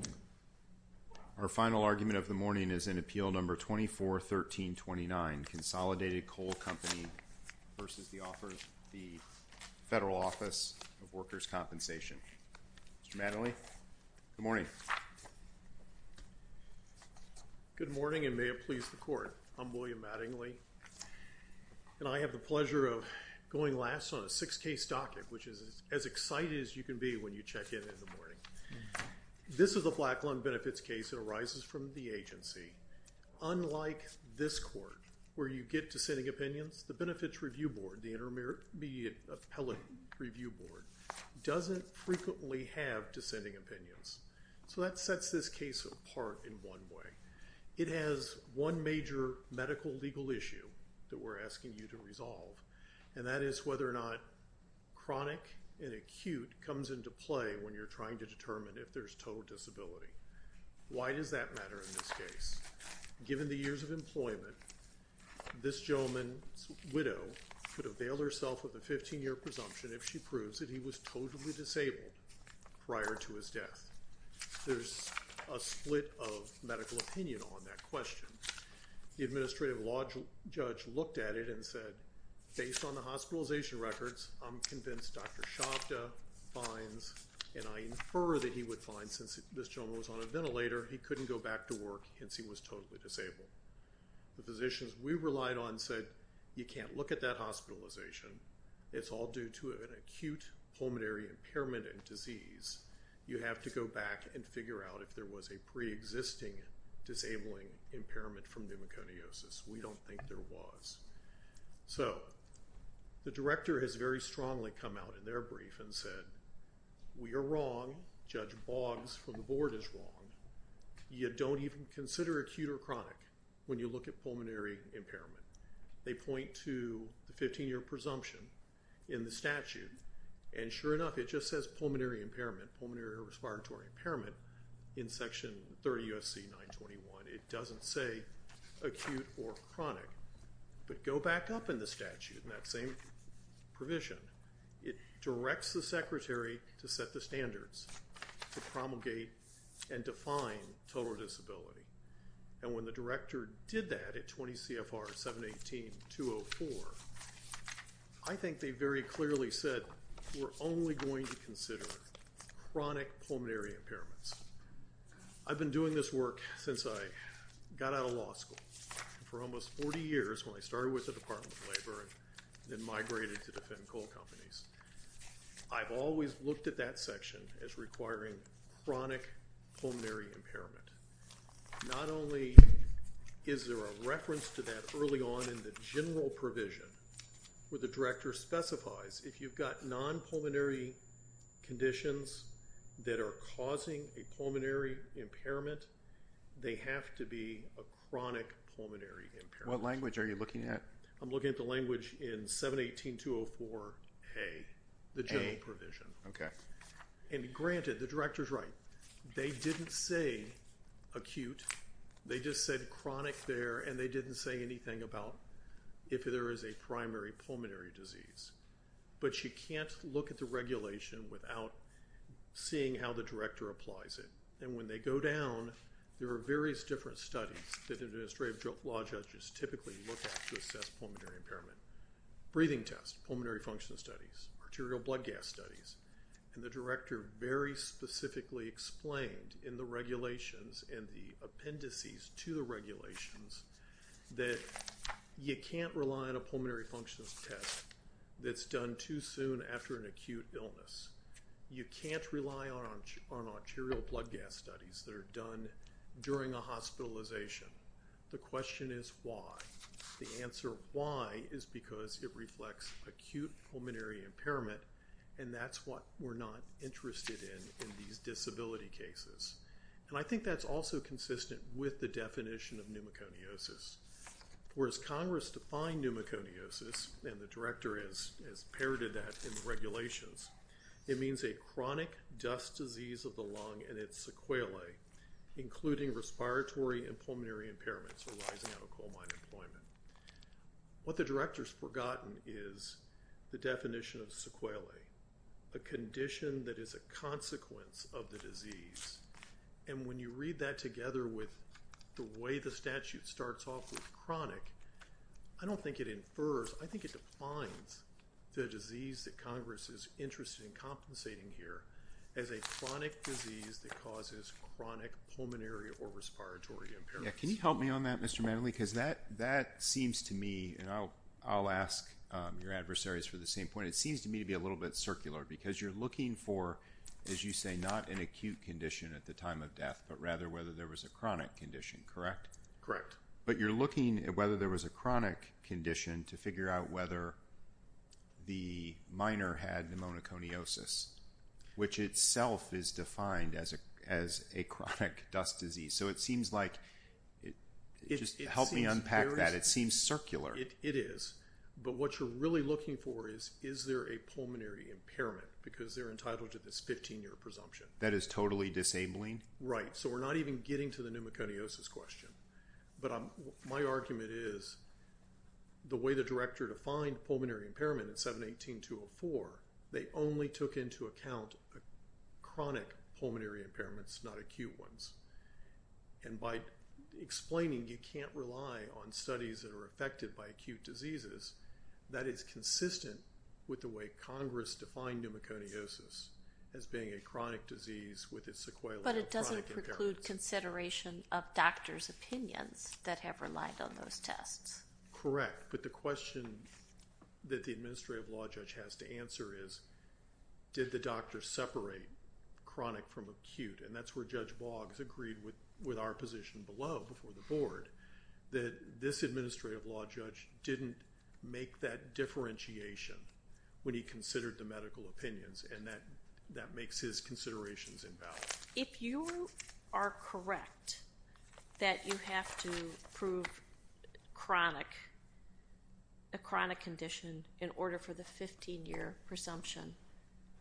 Mr. Mattingly, good morning. Good morning and may it please the court. I'm William Mattingly and I have the pleasure of going last on a six case docket which is as excited as you can be when you check in in the morning. This is a Black Lung Benefits case that arises from the agency. Unlike this court where you get dissenting opinions, the Benefits Review Board, the Intermediate Appellate Review Board doesn't frequently have dissenting opinions. So that sets this case apart in one way. It has one major medical legal issue that we're asking you to resolve and that is whether or not chronic and acute comes into play when you're trying to determine if there's total disability. Why does that matter in this case? Given the years of employment, this gentleman's widow could avail herself of a 15-year presumption if she proves that he was totally disabled prior to his death. There's a split of medical opinion on that question. The administrative law judge looked at it and said, based on the hospitalization records, I'm convinced Dr. Shabda finds, and I infer that he would find, since this gentleman was on a ventilator, he couldn't go back to work since he was totally disabled. The physicians we relied on said you can't look at that hospitalization. It's all due to an acute pulmonary impairment and disease. You have to go back and figure out if there was a pre-existing disabling impairment from pneumoconiosis. We don't think there was. So the director has very strongly come out in their brief and said we are wrong. Judge Boggs from the board is wrong. You don't even consider acute or chronic when you look at pulmonary impairment. They point to the 15-year presumption in the statute. And sure enough, it just says pulmonary impairment, pulmonary respiratory impairment in section 30 U.S.C. 921. It doesn't say acute or chronic. But go back up in the statute in that same provision. It directs the secretary to set the standards to promulgate and define total disability. And when the director did that at 20 CFR 718-204, I think they very clearly said we're only going to consider chronic pulmonary impairments. I've been doing this work since I got out of law school. For almost 40 years when I started with the Department of Labor and then migrated to defend coal companies, I've always looked at that section as requiring chronic pulmonary impairment. Not only is there a reference to that early on in the general provision, but the director specifies if you've got non-pulmonary conditions that are causing a pulmonary impairment, they have to be a chronic pulmonary impairment. What language are you looking at? I'm looking at the language in 718-204A, the general provision. And granted, the director's right. They didn't say acute. They just said chronic there and they didn't say anything about if there is a primary pulmonary disease. But you can't look at the regulation without seeing how the director applies it. And when they go down, there are various different studies that administrative law judges typically look at to assess pulmonary impairment. Breathing tests, pulmonary function studies, arterial blood gas studies. And the director very specifically explained in the regulations and the appendices to the regulations that you can't rely on a pulmonary impairment to assess pulmonary impairment. And that's what we're not interested in in these disability cases. And I think that's also consistent with the definition of pneumoconiosis. Whereas Congress defined pneumoconiosis, and the director has inherited that in the regulations, it means a chronic dust disease of the lung and it's sequelae, including respiratory and pulmonary impairments arising out of coal mine employment. What the director's forgotten is the definition of sequelae, a condition that is a consequence of the disease. And when you read that together with the way the statute starts off with chronic, I don't think it infers, I think it defines the disease that Congress is interested in compensating here as a chronic disease that causes chronic pulmonary or respiratory impairments. Can you help me on that, Mr. Manley? Because that seems to me, and I'll ask your adversaries for the same point, it seems to me to be a little bit circular. Because you're looking for, as you say, not an acute condition at the time of death, but rather whether there was a chronic condition, correct? Correct. But you're looking at whether there was a chronic condition to figure out whether the miner had pneumoconiosis, which itself is defined as a chronic dust disease. So it seems like, just help me unpack that, it seems circular. It is. But what you're really looking for is, is there a pulmonary impairment? Because they're entitled to this 15 year presumption. That is totally disabling? Right. So we're not even getting to the pneumoconiosis question. But my argument is, the way the director defined pulmonary impairment in 718-204, they only took into account chronic pulmonary impairments, not acute ones. And by explaining you can't rely on studies that are affected by acute diseases, that is consistent with the way Congress defined pneumoconiosis as being a chronic disease with its But it doesn't preclude consideration of doctors' opinions that have relied on those tests. Correct. But the question that the administrative law judge has to answer is, did the doctor separate chronic from acute? And that's where Judge Boggs agreed with our position below, before the board, that this administrative law judge didn't make that differentiation when he considered the medical opinions, and that makes his considerations invalid. If you are correct that you have to prove a chronic condition in order for the 15 year presumption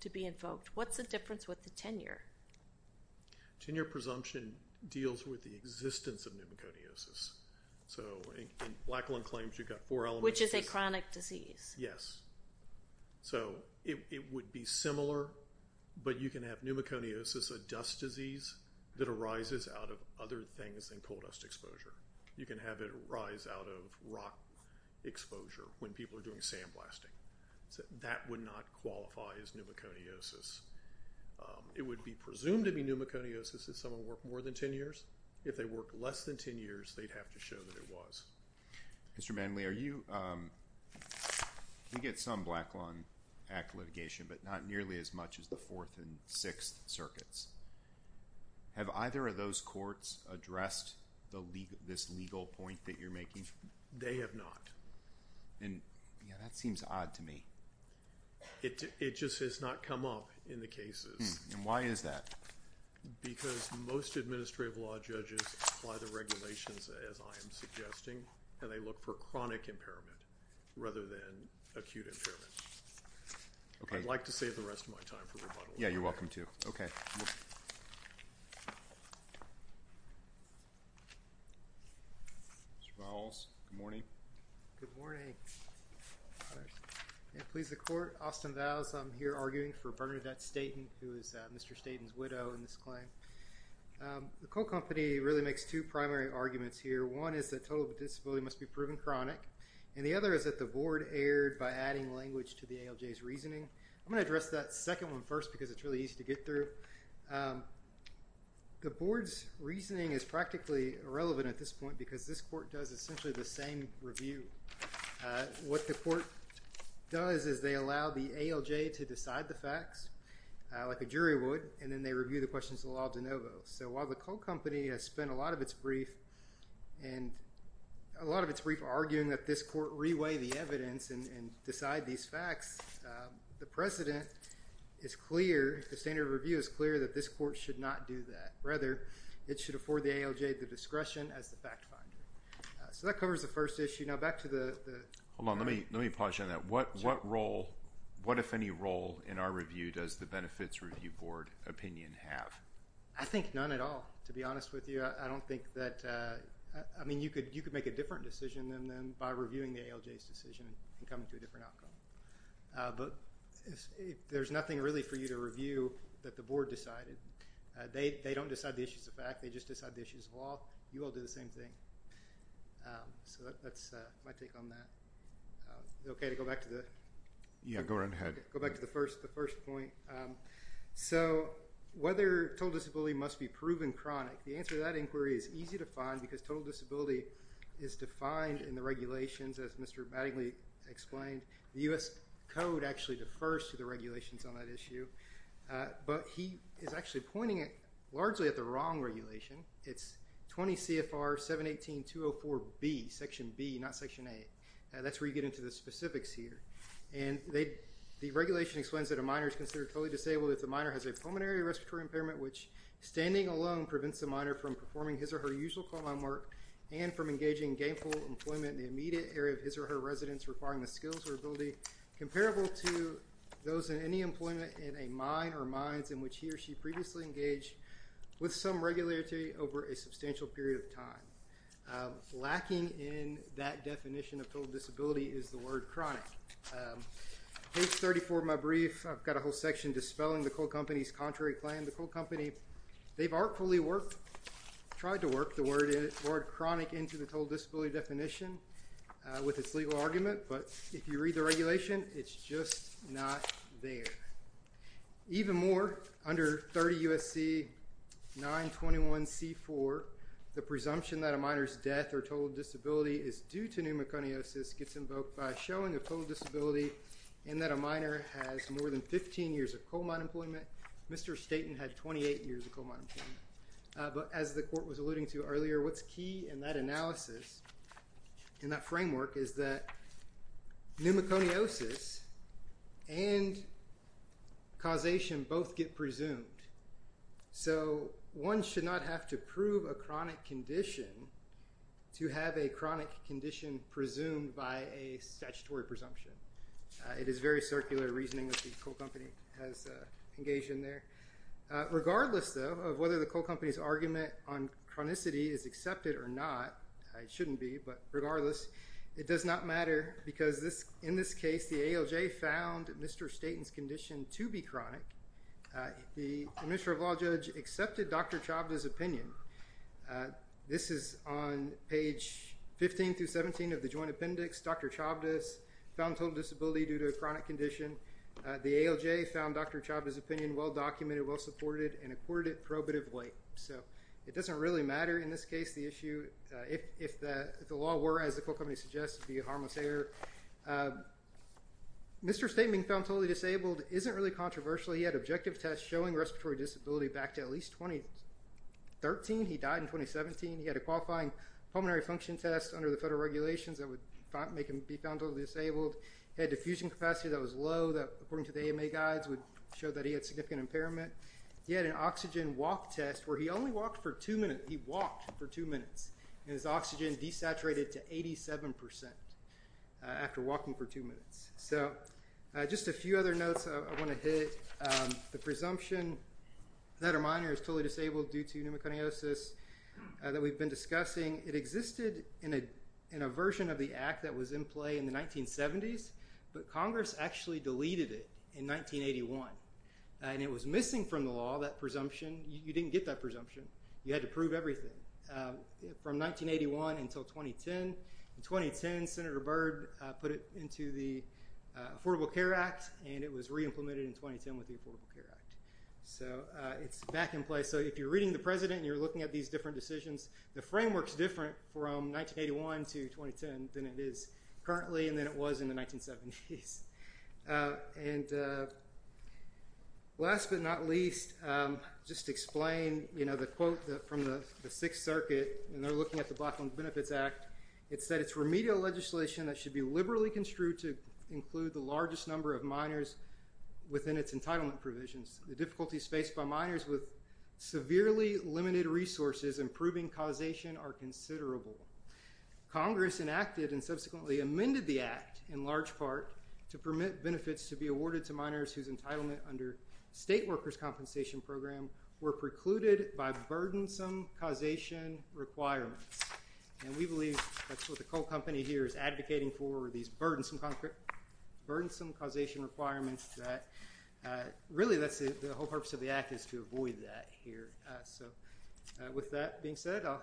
to be invoked, what's the difference with the 10 year? 10 year presumption deals with the existence of pneumoconiosis. So in Blacklund claims you've got four elements. Which is a chronic disease. Yes. So it would be similar, but you can have pneumoconiosis, a dust disease, that arises out of other things than coal dust exposure. You can have it arise out of rock exposure when people are doing sandblasting. That would not qualify as pneumoconiosis. It would be presumed to be pneumoconiosis if someone worked more than 10 years. If they worked less than 10 years, they'd have to show that it was. Mr. Manley, we get some Blacklund Act litigation, but not nearly as much as the 4th and 6th circuits. Have either of those courts addressed this legal point that you're making? They have not. And that seems odd to me. It just has not come up in the cases. And why is that? Because most administrative law judges apply the regulations, as I am suggesting, and they look for chronic impairment rather than acute impairment. I'd like to save the rest of my time for rebuttal. Yeah, you're welcome to. Mr. Rowles, good morning. Good morning. Please, the court. Austin Vows. I'm here arguing for Bernadette Staton, who is Mr. Staton's widow in this claim. The coal company really makes two primary arguments here. One is that total disability must be proven chronic. And the other is that the board erred by adding language to the ALJ's reasoning. I'm going to address that second one first because it's really easy to get through. The board's reasoning is practically irrelevant at this point because this court does essentially the same review. What the court does is they allow the ALJ to decide the facts, like a jury would, and then they review the questions of the law de novo. So while the coal company has spent a lot of its brief arguing that this court reweigh the evidence and decide these facts, the precedent is clear, the standard of review is clear, that this court should not do that. Rather, it should afford the ALJ the discretion as the fact finder. So that covers the first issue. Now back to the... Hold on, let me pause you on that. What role, what if any role in our review does the Benefits Review Board opinion have? I think none at all, to be honest with you. I don't think that, I mean, you could make a different decision than by reviewing the ALJ's decision and coming to a different outcome. But there's nothing really for you to review that the board decided. They don't decide the issues of fact, they just decide the issues of law. You all do the same thing. So that's my take on that. Is it okay to go back to the... Yeah, go right ahead. Go back to the first point. So whether total disability must be proven chronic, the answer to that inquiry is easy to find because total disability is defined in the regulations as Mr. Battingly explained. The U.S. Code actually defers to the regulations on that issue. But he is actually pointing it largely at the wrong regulation. It's 20 CFR 718-204B, Section B, not Section A. That's where you get into the specifics here. And the regulation explains that a minor is considered totally disabled if the minor has a pulmonary respiratory impairment which, standing alone, prevents the minor from performing his or her usual frontline work and from engaging in gainful employment in the immediate area of his or her residence requiring the skills or ability comparable to those in any employment in a mine or mines in which he or she previously engaged with some regulatory over a substantial period of time. Lacking in that definition of total disability is the word chronic. Page 34 of my brief, I've got a whole section dispelling the coal company's contrary claim. The coal company, they've artfully worked, tried to work the word chronic into the total disability definition with its legal argument. But if you read the regulation, it's just not there. Even more, under 30 USC 921C4, the presumption that a minor's death or total disability is due to pneumoconiosis gets invoked by showing a total disability and that a minor has more than 15 years of coal mine employment. Mr. Staten had 28 years of coal mine employment. But as the court was alluding to earlier, what's key in that analysis, in that framework, is that pneumoconiosis and causation both get presumed. So one should not have to prove a chronic condition to have a chronic condition presumed by a statutory presumption. It is very circular reasoning that the coal company has engaged in there. Regardless, though, of whether the coal company's argument on chronicity is accepted or not, it shouldn't be, but regardless, it does not matter because in this case, the ALJ found Mr. Staten's condition to be chronic. The administrative law judge accepted Dr. Chavda's opinion. This is on page 15 through 17 of the joint appendix. Dr. Chavda found total disability due to a chronic condition. The ALJ found Dr. Chavda's opinion well-documented, well-supported, and accorded probative weight. So it doesn't really matter, in this case, the issue. If the law were, as the coal company suggests, to be a harmless error. Mr. Staten being found totally disabled isn't really controversial. He had objective tests showing respiratory disability back to at least 2013. He died in 2017. He had a qualifying pulmonary function test under the federal regulations that would make him be found totally disabled. He had diffusion capacity that was low that, according to the AMA guides, would show that he had significant impairment. He had an oxygen walk test where he only walked for two minutes. He walked for two minutes. And his oxygen desaturated to 87% after walking for two minutes. So just a few other notes I want to hit. The presumption that a minor is totally disabled due to pneumoconiosis that we've been discussing. It existed in a version of the act that was in play in the 1970s, but Congress actually deleted it in 1981. And it was missing from the law, that presumption. You didn't get that presumption. You had to prove everything from 1981 until 2010. In 2010, Senator Byrd put it into the Affordable Care Act, and it was re-implemented in 2010 with the Affordable Care Act. So it's back in place. So if you're reading the President and you're looking at these different decisions, the framework's different from 1981 to 2010 than it is currently and than it was in the 1970s. And last but not least, just to explain, you know, the quote from the Sixth Circuit, and they're looking at the Blackland Benefits Act. It said, it's remedial legislation that should be liberally construed to include the largest number of minors within its entitlement provisions. The difficulties faced by minors with severely limited resources and proving causation are considerable. Congress enacted and subsequently amended the act in large part to permit benefits to be awarded to minors whose entitlement under state workers' compensation program were precluded by burdensome causation requirements. And we believe that's what the co-company here is advocating for, these burdensome causation requirements that, really, that's the whole purpose of the act is to avoid that here. So with that being said, I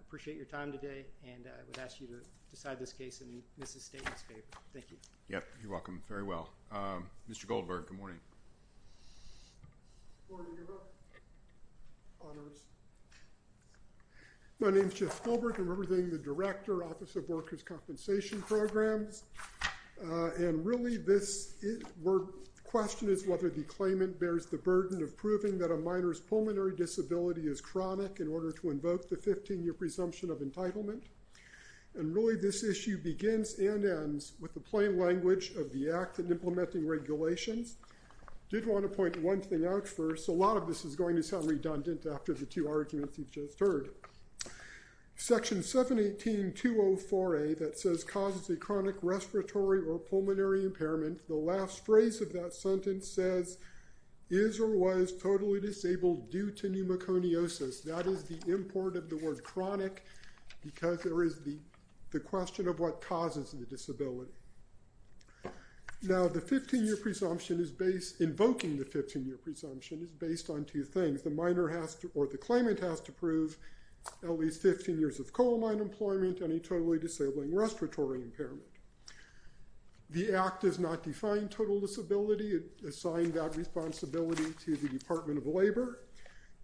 appreciate your time today, and I would ask you to decide this case in Mrs. Staten's favor. Thank you. Yep, you're welcome. Very well. Mr. Goldberg, good morning. My name's Jeff Goldberg. I'm representing the Director, Office of Workers' Compensation Programs. And really, the question is whether the claimant bears the burden of proving that a minor's pulmonary disability is chronic in order to invoke the 15-year presumption of entitlement. And really, this issue begins and ends with the plain language of the act in implementing regulations. Did want to point one thing out first. A lot of this is going to sound redundant after the two arguments you've just heard. Section 718.204A that says, causes a chronic respiratory or pulmonary impairment, the last phrase of that sentence says, is or was totally disabled due to pneumoconiosis. That is the import of the word chronic because there is the question of what causes the disability. Now, the 15-year presumption is based, invoking the 15-year presumption is based on two things. The minor has to, or the claimant has to prove at least 15 years of coal mine employment and a totally disabling respiratory impairment. The act does not define total disability. It assigned that responsibility to the Department of Labor.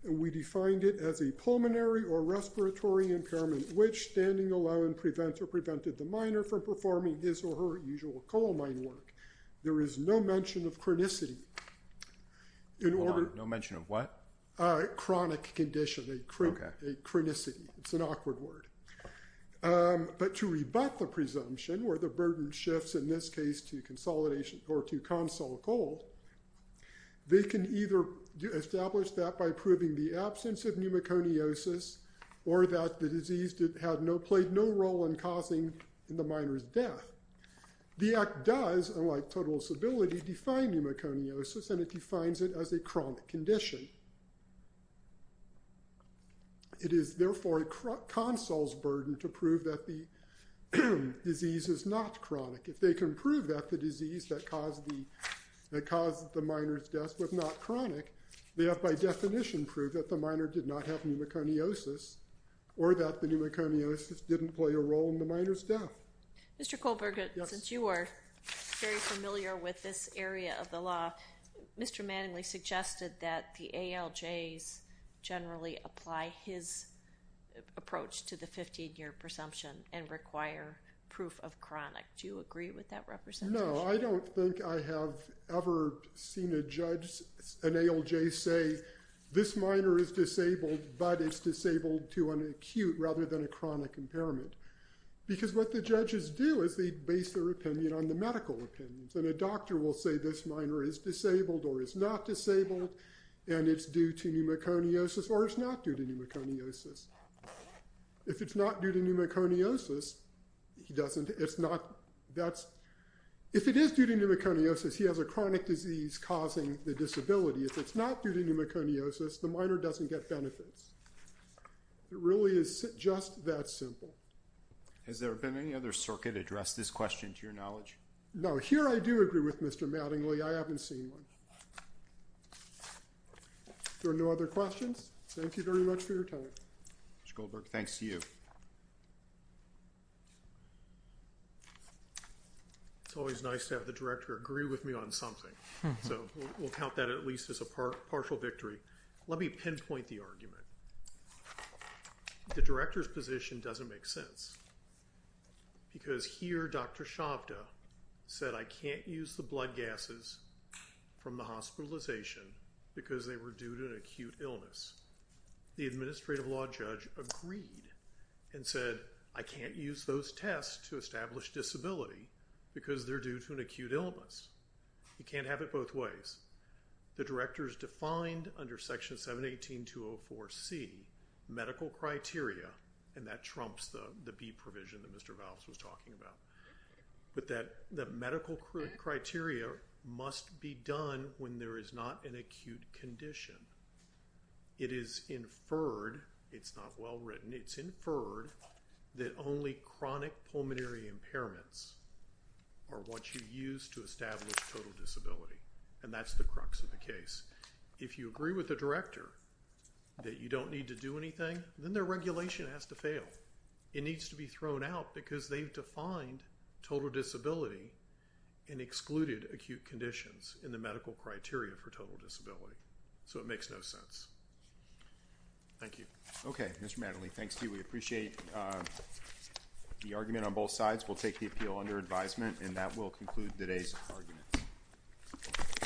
We defined it as a pulmonary or respiratory impairment which standing alone prevents or prevented the minor from performing his or her usual coal mine work. There is no mention of chronicity. In order. No mention of what? Chronic condition, a chronicity. It's an awkward word. But to rebut the presumption, where the burden shifts in this case to consolidation or to console coal, they can either establish that by proving the absence of pneumoconiosis or that the disease did have no, played no role in causing the minor's death. The act does, unlike total disability, define pneumoconiosis and it defines it as a chronic condition. It is therefore a console's burden to prove that the disease is not chronic. If they can prove that the disease that caused the minor's death was not chronic, they have by definition proved that the minor did not have pneumoconiosis or that the pneumoconiosis didn't play a role in the minor's death. Mr. Kohlberger, since you are very familiar with this area of the law, Mr. Manningly suggested that the ALJs generally apply his approach to the 15-year presumption and require proof of chronic. Do you agree with that representation? No, I don't think I have ever seen a judge, an ALJ say, this minor is disabled but it's disabled to an acute rather than a chronic impairment because what the judges do is they base their opinion on the medical opinions and a doctor will say this minor is disabled or is not disabled and it's due to pneumoconiosis or it's not due to pneumoconiosis. If it's not due to pneumoconiosis, he doesn't, it's not, that's, if it is due to pneumoconiosis, he has a chronic disease causing the disability. If it's not due to pneumoconiosis, the minor doesn't get benefits. It really is just that simple. Has there been any other circuit address this question to your knowledge? No, here I do agree with Mr. Manningly. I haven't seen one. There are no other questions? Thank you very much for your time. Mr. Kohlberger, thanks to you. It's always nice to have the director agree with me on something. So we'll count that at least as a partial victory. Let me pinpoint the argument. The director's position doesn't make sense because here Dr. Shabda said I can't use the blood gases from the hospitalization because they were due to an acute illness. The administrative law judge agreed and said I can't use those tests to establish disability because they're due to an acute illness. You can't have it both ways. The director's defined under section 718.204C medical criteria and that trumps the B provision that Mr. Valls was talking about. But that medical criteria must be done when there is not an acute condition. It is inferred. It's not well written. It's inferred that only chronic pulmonary impairments are what you use to establish total disability. And that's the crux of the case. If you agree with the director that you don't need to do anything then their regulation has to fail. It needs to be thrown out because they've defined total disability and excluded acute conditions in the medical criteria for total disability. So it makes no sense. Thank you. Okay, Mr. Matterly, thanks to you. We appreciate the argument on both sides. We'll take the appeal under advisement and that will conclude today's argument.